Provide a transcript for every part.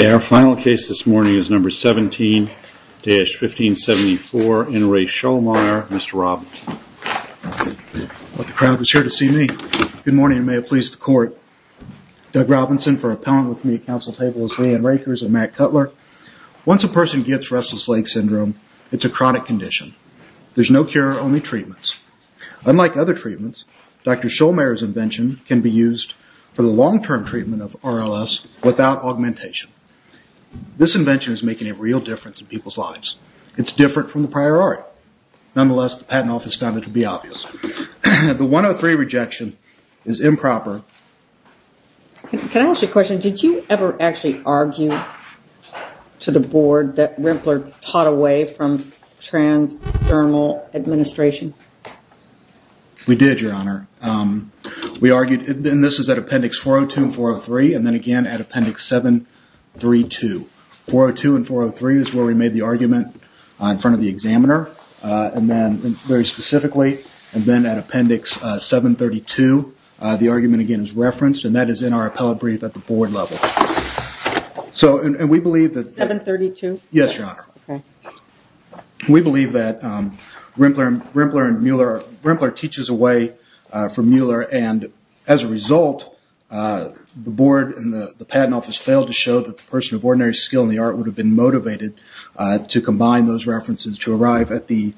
Okay, our final case this morning is number 17-1574, N. Ray Schollmayer, Mr. Robinson. The crowd is here to see me. Good morning and may it please the court. Doug Robinson for Appellant with Community Council Tables, Leigh Ann Rakers and Matt Cutler. Once a person gets Restless Leg Syndrome, it's a chronic condition. There's no cure, only treatments. Unlike other treatments, Dr. Schollmayer's invention can be used for the long-term treatment of RLS without augmentation. This invention is making a real difference in people's lives. It's different from the prior art. Nonetheless, the Patent Office found it to be obvious. The 103 rejection is improper. Can I ask you a question? Did you ever actually argue to the board that Rempler taught away from transdermal administration? We did, Your Honor. We argued, and this is at Appendix 402 and 403 and then again at Appendix 732. 402 and 403 is where we made the argument in front of the examiner, very specifically. Then at Appendix 732, the argument again is referenced and that is in our appellate brief at the board level. 732? Yes, Your Honor. We believe that Rempler teaches away from Mueller and as a result, the board and the Patent Office failed to show that a person of ordinary skill in the art would have been motivated to combine those references to arrive at the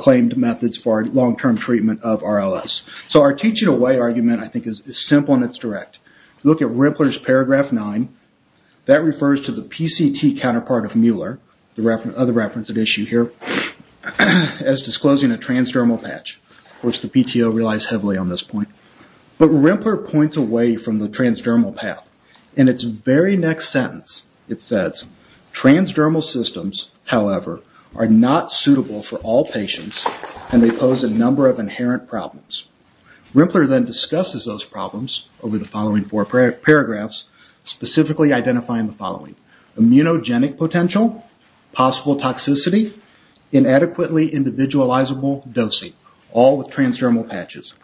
claimed methods for long-term treatment of RLS. Our teaching away argument, I think, is simple and it's direct. Look at Rempler's Paragraph 9. That refers to the PCT counterpart of Mueller, the other reference at issue here, as disclosing a transdermal patch, which the PTO relies heavily on this point. But Rempler points away from the transdermal path. In its very next sentence, it says, Transdermal systems, however, are not suitable for all patients and they pose a number of inherent problems. Rempler then discusses those problems over the following four paragraphs, specifically identifying the following. Immunogenic potential, possible toxicity, inadequately individualizable dosing, all with transdermal patches.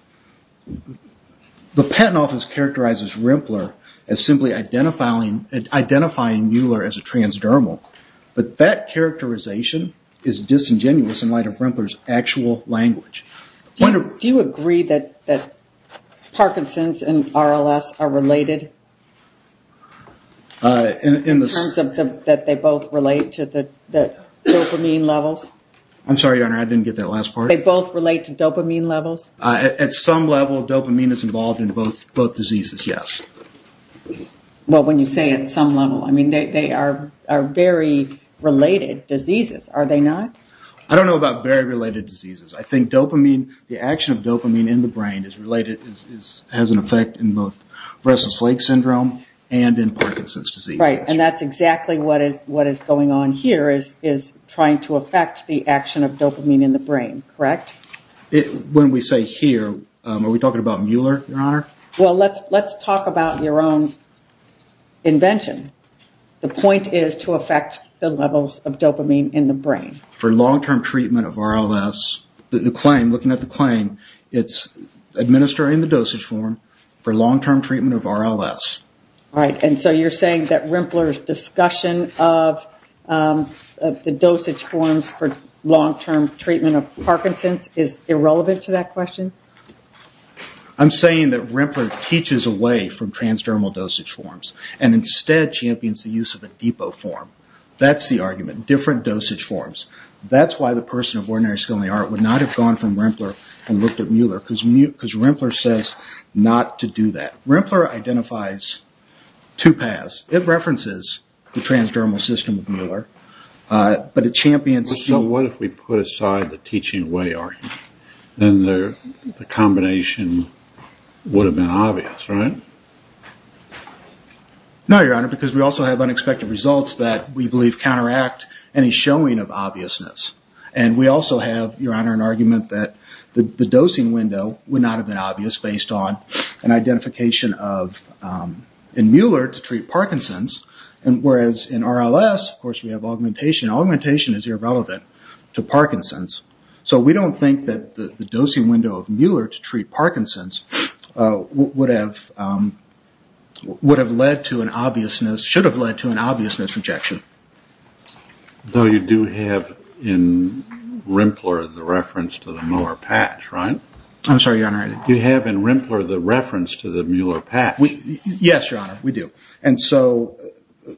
The Patent Office characterizes Rempler as simply identifying Mueller as a transdermal, but that characterization is disingenuous in light of Rempler's actual language. Do you agree that Parkinson's and RLS are related? In the sense that they both relate to the dopamine levels? I'm sorry, Your Honor, I didn't get that last part. They both relate to dopamine levels? At some level, dopamine is involved in both diseases, yes. Well, when you say at some level, I mean, they are very related diseases, are they not? I don't know about very related diseases. I think the action of dopamine in the brain has an effect in both Restless Leg Syndrome and in Parkinson's disease. Right, and that's exactly what is going on here, is trying to affect the action of dopamine in the brain, correct? When we say here, are we talking about Mueller, Your Honor? Well, let's talk about your own invention. The point is to affect the levels of dopamine in the brain. For long-term treatment of RLS, the claim, looking at the claim, it's administering the dosage form for long-term treatment of RLS. Right, and so you're saying that Rempler's discussion of the dosage forms for long-term treatment of Parkinson's is irrelevant to that question? I'm saying that Rempler teaches away from transdermal dosage forms and instead champions the use of a depot form. That's the argument, different dosage forms. That's why the person of ordinary skill in the art would not have gone from Rempler and looked at Mueller, because Rempler says not to do that. Rempler identifies two paths. It references the transdermal system of Mueller, but it champions... So what if we put aside the teaching away argument? Then the combination would have been obvious, right? No, Your Honor, because we also have unexpected results that we believe counteract any showing of obviousness. And we also have, Your Honor, an argument that the dosing window would not have been obvious based on an identification of... In Mueller to treat Parkinson's, whereas in RLS, of course, we have augmentation. Augmentation is irrelevant to Parkinson's. So we don't think that the dosing window of Mueller to treat Parkinson's would have led to an obviousness, should have led to an obviousness rejection. Though you do have in Rempler the reference to the Mueller patch, right? I'm sorry, Your Honor. You have in Rempler the reference to the Mueller patch. Yes, Your Honor, we do. And so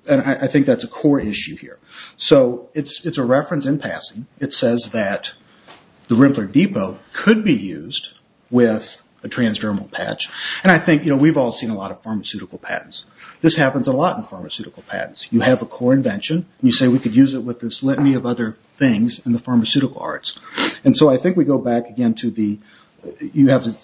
I think that's a core issue here. So it's a reference in passing. It says that the Rempler depot could be used with a transdermal patch. And I think we've all seen a lot of pharmaceutical patents. This happens a lot in pharmaceutical patents. You have a core invention, and you say we could use it with this litany of other things in the pharmaceutical arts. And so I think we go back again to the...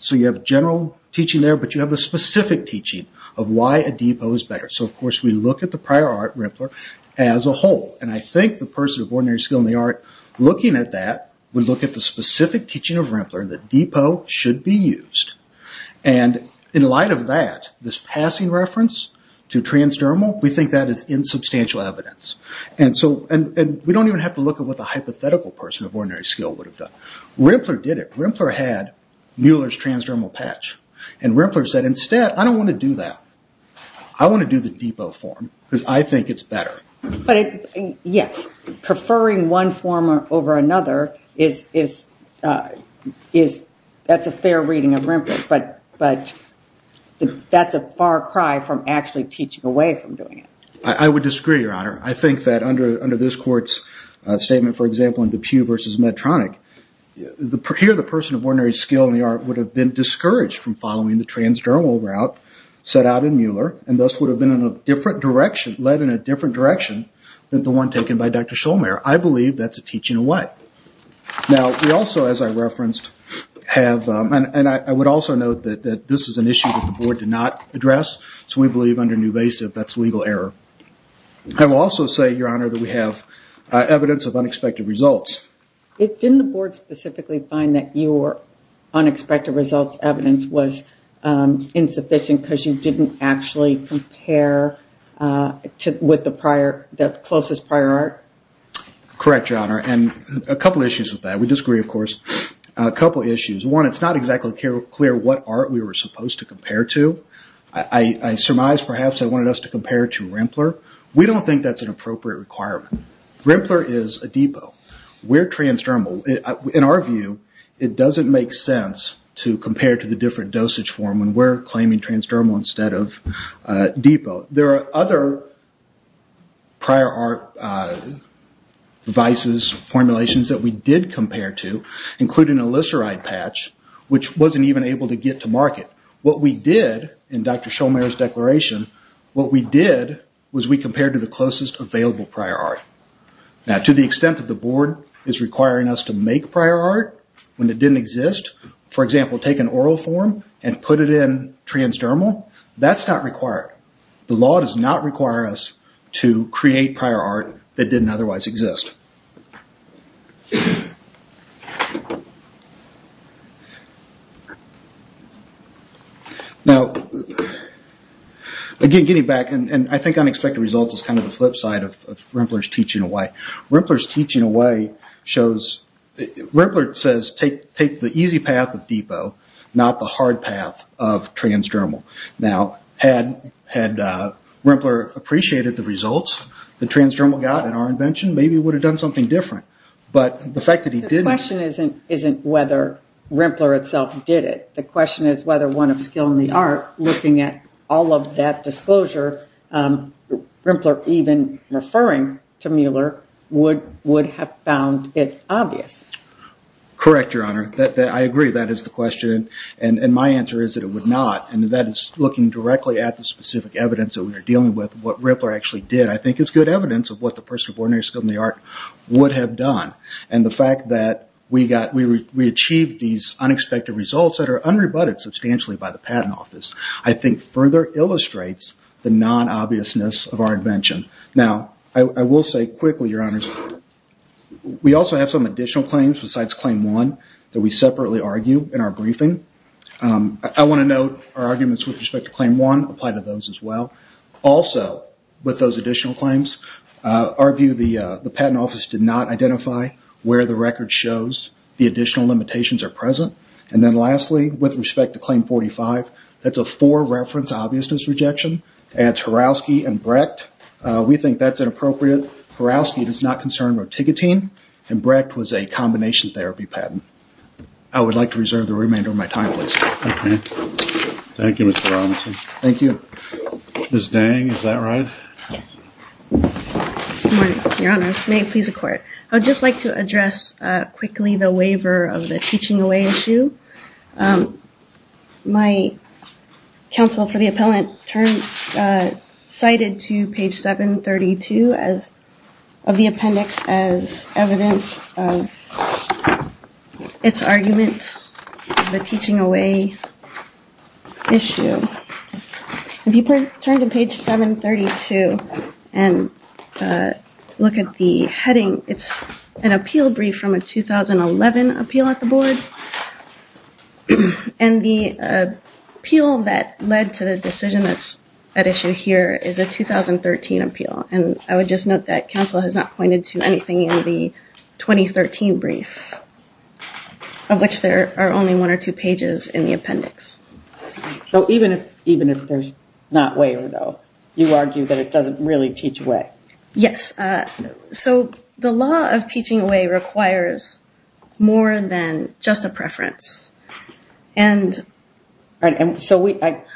So you have a general teaching there, but you have a specific teaching of why a depot is better. So, of course, we look at the prior art, Rempler, as a whole. And I think the person of ordinary skill in the art looking at that would look at the specific teaching of Rempler that depot should be used. And in light of that, this passing reference to transdermal, we think that is insubstantial evidence. And we don't even have to look at what the hypothetical person of ordinary skill would have done. Rempler did it. Rempler had Mueller's transdermal patch. And Rempler said, instead, I don't want to do that. I want to do the depot form because I think it's better. Yes. Preferring one form over another, that's a fair reading of Rempler. But that's a far cry from actually teaching away from doing it. I would disagree, Your Honor. I think that under this court's statement, for example, in Depew versus Medtronic, here the person of ordinary skill in the art would have been discouraged from following the transdermal route set out in Mueller and thus would have been in a different direction, led in a different direction than the one taken by Dr. Shulman. I believe that's a teaching away. Now, we also, as I referenced, have, and I would also note that this is an issue that the board did not address. So we believe under Newvasive that's legal error. I will also say, Your Honor, that we have evidence of unexpected results. Didn't the board specifically find that your unexpected results evidence was insufficient because you didn't actually compare with the closest prior art? Correct, Your Honor, and a couple issues with that. We disagree, of course. A couple issues. One, it's not exactly clear what art we were supposed to compare to. I surmise, perhaps, they wanted us to compare to Rempler. We don't think that's an appropriate requirement. Rempler is a depot. We're transdermal. In our view, it doesn't make sense to compare to the different dosage form when we're claiming transdermal instead of depot. There are other prior art devices, formulations that we did compare to, including a Lyseride patch, which wasn't even able to get to market. What we did, in Dr. Shomare's declaration, what we did was we compared to the closest available prior art. To the extent that the board is requiring us to make prior art when it didn't exist, for example, take an oral form and put it in transdermal, that's not required. The law does not require us to create prior art that didn't otherwise exist. Getting back, I think unexpected results is the flip side of Rempler's teaching away. Rempler's teaching away shows... Rempler says, take the easy path of depot, not the hard path of transdermal. Had Rempler appreciated the results that transdermal got in our invention, maybe it would have done something different. The question isn't whether Rempler itself did it. The question is whether one of skill in the art, looking at all of that disclosure, Rempler even referring to Mueller would have found it obvious. Correct, Your Honor. I agree, that is the question. My answer is that it would not. That is looking directly at the specific evidence that we are dealing with, what Rempler actually did, I think is good evidence of what the person of ordinary skill in the art would have done. The fact that we achieved these unexpected results that are unrebutted substantially by the Patent Office, I think further illustrates the non-obviousness of our invention. Now, I will say quickly, Your Honors, we also have some additional claims besides Claim 1 that we separately argue in our briefing. I want to note our arguments with respect to Claim 1 apply to those as well. Also, with those additional claims, our view, the Patent Office did not identify where the record shows the additional limitations are present. And then lastly, with respect to Claim 45, that is a four-reference obviousness rejection, and it is Horowski and Brecht. We think that is inappropriate. Horowski does not concern rotigotine, and Brecht was a combination therapy patent. I would like to reserve the remainder of my time, please. Thank you, Mr. Robinson. Thank you. Ms. Dang, is that right? Yes. Good morning, Your Honors. May it please the Court. I would just like to address quickly the waiver of the teaching away issue. My counsel for the appellant cited to page 732 of the appendix as evidence of its argument, the teaching away issue. If you turn to page 732 and look at the heading, it's an appeal brief from a 2011 appeal at the Board, and the appeal that led to the decision that's at issue here is a 2013 appeal. And I would just note that counsel has not pointed to anything in the 2013 brief, of which there are only one or two pages in the appendix. So even if there's not waiver, though, you argue that it doesn't really teach away? Yes. So the law of teaching away requires more than just a preference. I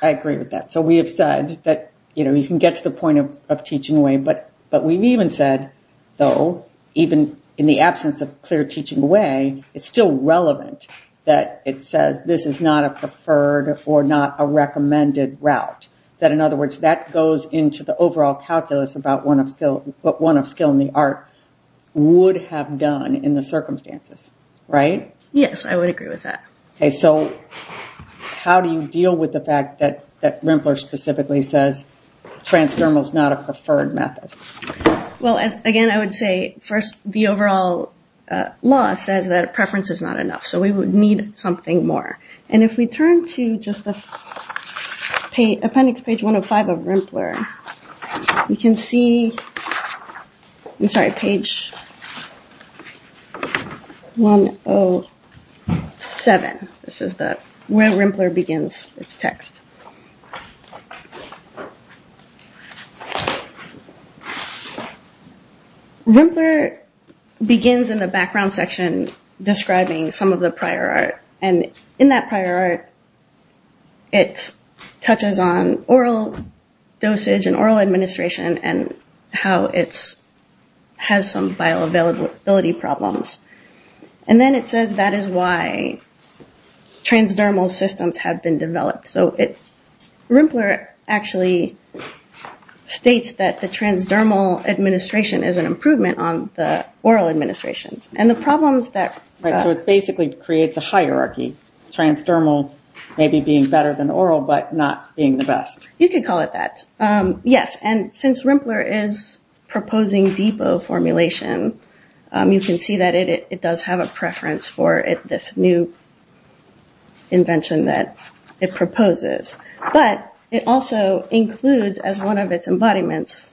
agree with that. So we have said that you can get to the point of teaching away, but we've even said, though, even in the absence of clear teaching away, it's still relevant that it says this is not a preferred or not a recommended route. That, in other words, that goes into the overall calculus about what one of skill and the art would have done in the circumstances. Right? Yes, I would agree with that. Okay, so how do you deal with the fact that Rempler specifically says transdermal is not a preferred method? Well, again, I would say, first, the overall law says that a preference is not enough, so we would need something more. And if we turn to just the appendix page 105 of Rempler, you can see, I'm sorry, page 107. This is where Rempler begins its text. Rempler begins in the background section describing some of the prior art, and in that prior art, it touches on oral dosage and oral administration and how it has some bioavailability problems. And then it says that is why transdermal systems have been developed. So Rempler actually states that the transdermal administration is an improvement on the oral administrations. Right, so it basically creates a hierarchy, transdermal maybe being better than oral but not being the best. You could call it that. Yes, and since Rempler is proposing depot formulation, you can see that it does have a preference for this new invention that it proposes. But it also includes as one of its embodiments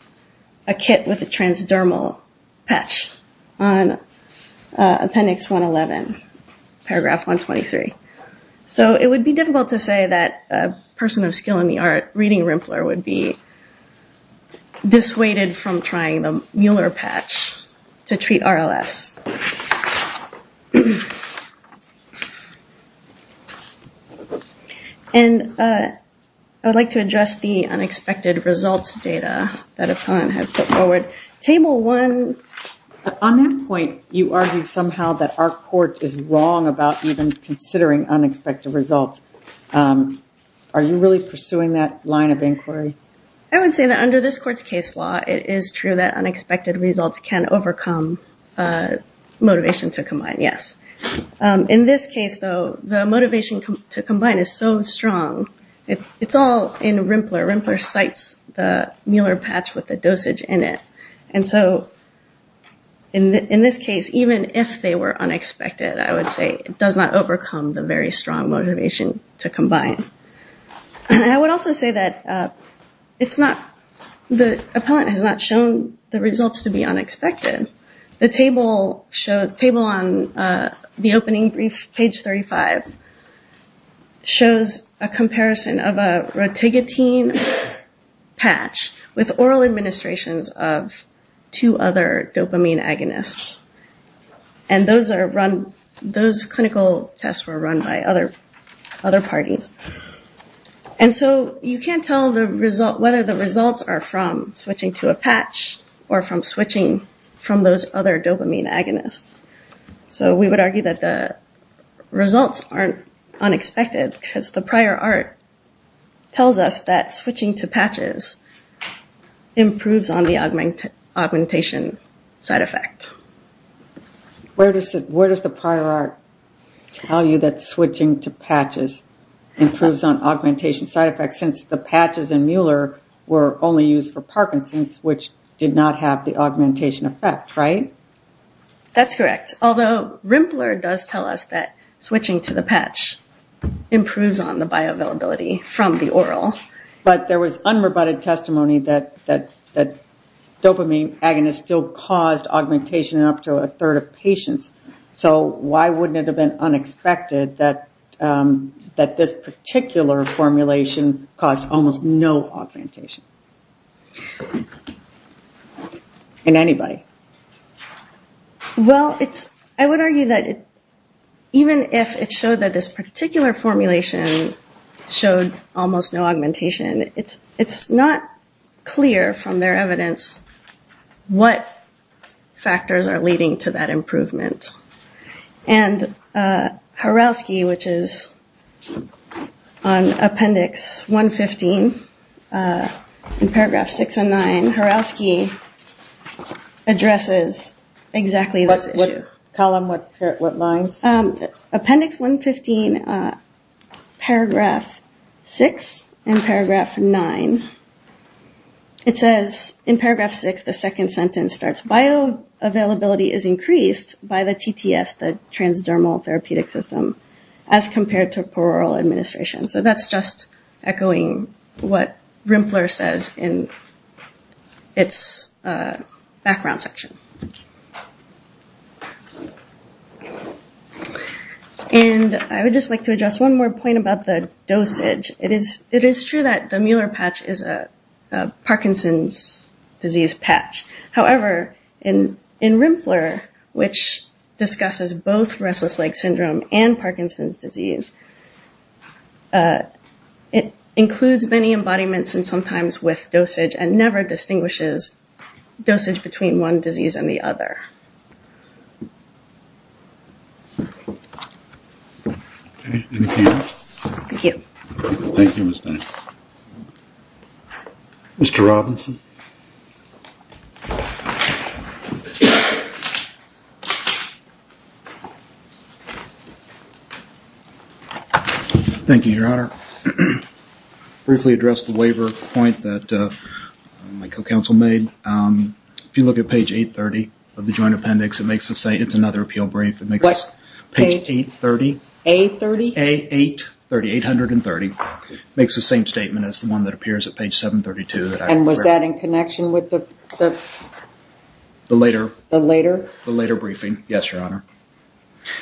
a kit with a transdermal patch on appendix 111, paragraph 123. So it would be difficult to say that a person of skill in the art reading Rempler would be dissuaded from trying the Mueller patch to treat RLS. And I would like to address the unexpected results data that Epon has put forward. On that point, you argue somehow that our court is wrong about even considering unexpected results. Are you really pursuing that line of inquiry? I would say that under this court's case law, it is true that unexpected results can overcome motivation to combine, yes. In this case, though, the motivation to combine is so strong. It's all in Rempler. Rempler cites the Mueller patch with the dosage in it. And so in this case, even if they were unexpected, I would say it does not overcome the very strong motivation to combine. And I would also say that the appellant has not shown the results to be unexpected. The table on the opening brief, page 35, shows a comparison of a rotigotine patch with oral administrations of two other dopamine agonists. And those clinical tests were run by other parties. And so you can't tell whether the results are from switching to a patch or from switching from those other dopamine agonists. So we would argue that the results aren't unexpected because the prior art tells us that switching to patches improves on the augmentation side effect. Where does the prior art tell you that switching to patches improves on augmentation side effects, since the patches in Mueller were only used for Parkinson's, which did not have the augmentation effect, right? That's correct. Although Rempler does tell us that switching to the patch improves on the bioavailability from the oral. But there was unrebutted testimony that dopamine agonists still caused augmentation in up to a third of patients. So why wouldn't it have been unexpected that this particular formulation caused almost no augmentation in anybody? Well, I would argue that even if it showed that this particular formulation showed almost no augmentation, it's not clear from their evidence what factors are leading to that improvement. And Horowski, which is on Appendix 115, in paragraph 6 and 9, Horowski addresses exactly this issue. What column? What lines? Appendix 115, paragraph 6 and paragraph 9. It says, in paragraph 6, the second sentence starts, bioavailability is increased by the TTS, the transdermal therapeutic system, as compared to plural administration. So that's just echoing what Rempler says in its background section. And I would just like to address one more point about the dosage. It is true that the Mueller patch is a Parkinson's disease patch. However, in Rempler, which discusses both restless leg syndrome and Parkinson's disease, it includes many embodiments and sometimes with dosage and never distinguishes dosage between one disease and the other. Thank you. Thank you, Mr. Robinson. Thank you, Your Honor. Briefly address the waiver point that my co-counsel made. If you look at page 830 of the Joint Appendix, it's another appeal brief. Page 830. A30? A830, 830. Makes the same statement as the one that appears at page 732. And was that in connection with the later? The later briefing, yes, Your Honor.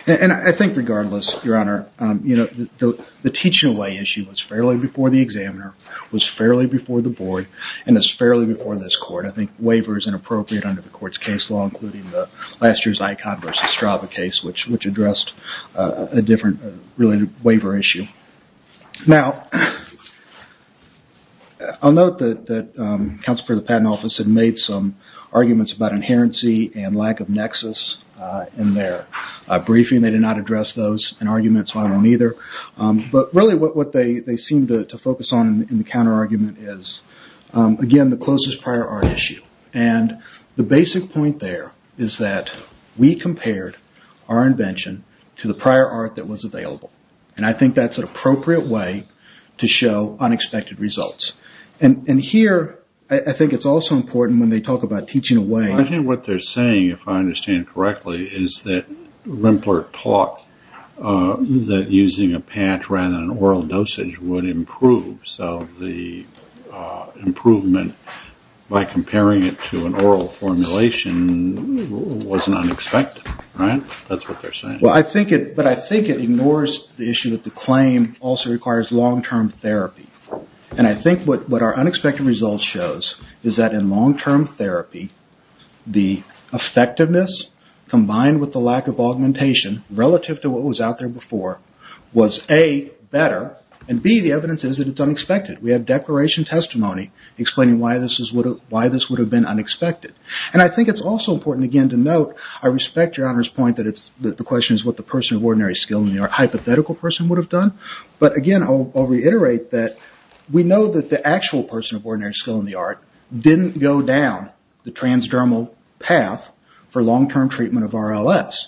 And I think regardless, Your Honor, the teaching away issue was fairly before the examiner, was fairly before the board, and is fairly before this court. I think waiver is inappropriate under the court's case law, including last year's Icon v. Strava case, which addressed a different related waiver issue. Now, I'll note that counsel for the patent office had made some arguments about inherency and lack of nexus in their briefing. They did not address those in argument, so I won't either. But really what they seem to focus on in the counterargument is, again, the closest prior art issue. And the basic point there is that we compared our invention to the prior art that was available. And I think that's an appropriate way to show unexpected results. And here, I think it's also important when they talk about teaching away. I think what they're saying, if I understand correctly, is that Rempler taught that using a patch rather than oral dosage would improve. So the improvement by comparing it to an oral formulation wasn't unexpected, right? That's what they're saying. But I think it ignores the issue that the claim also requires long-term therapy. And I think what our unexpected results shows is that in long-term therapy, the effectiveness combined with the lack of augmentation relative to what was out there before was, A, better, and, B, the evidence is that it's unexpected. We have declaration testimony explaining why this would have been unexpected. And I think it's also important, again, to note, I respect your Honor's point that the question is what the person of ordinary skill and the hypothetical person would have done. But, again, I'll reiterate that we know that the actual person of ordinary skill in the art didn't go down the transdermal path for long-term treatment of RLS,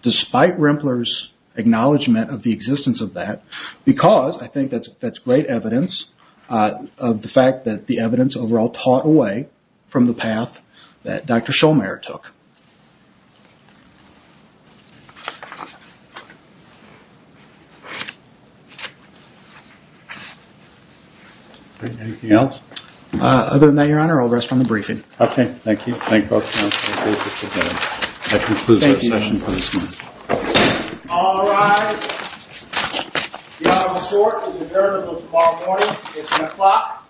despite Rempler's acknowledgment of the existence of that, because I think that's great evidence of the fact that the evidence overall taught away from the path that Dr. Schollmayer took. Anything else? Other than that, Your Honor, I'll rest on the briefing. Okay. Thank you. Thank you both, Counsel. Thank you. That concludes our session for this morning. Thank you. All rise. The Honorable Court is adjourned until tomorrow morning at 10 o'clock a.m.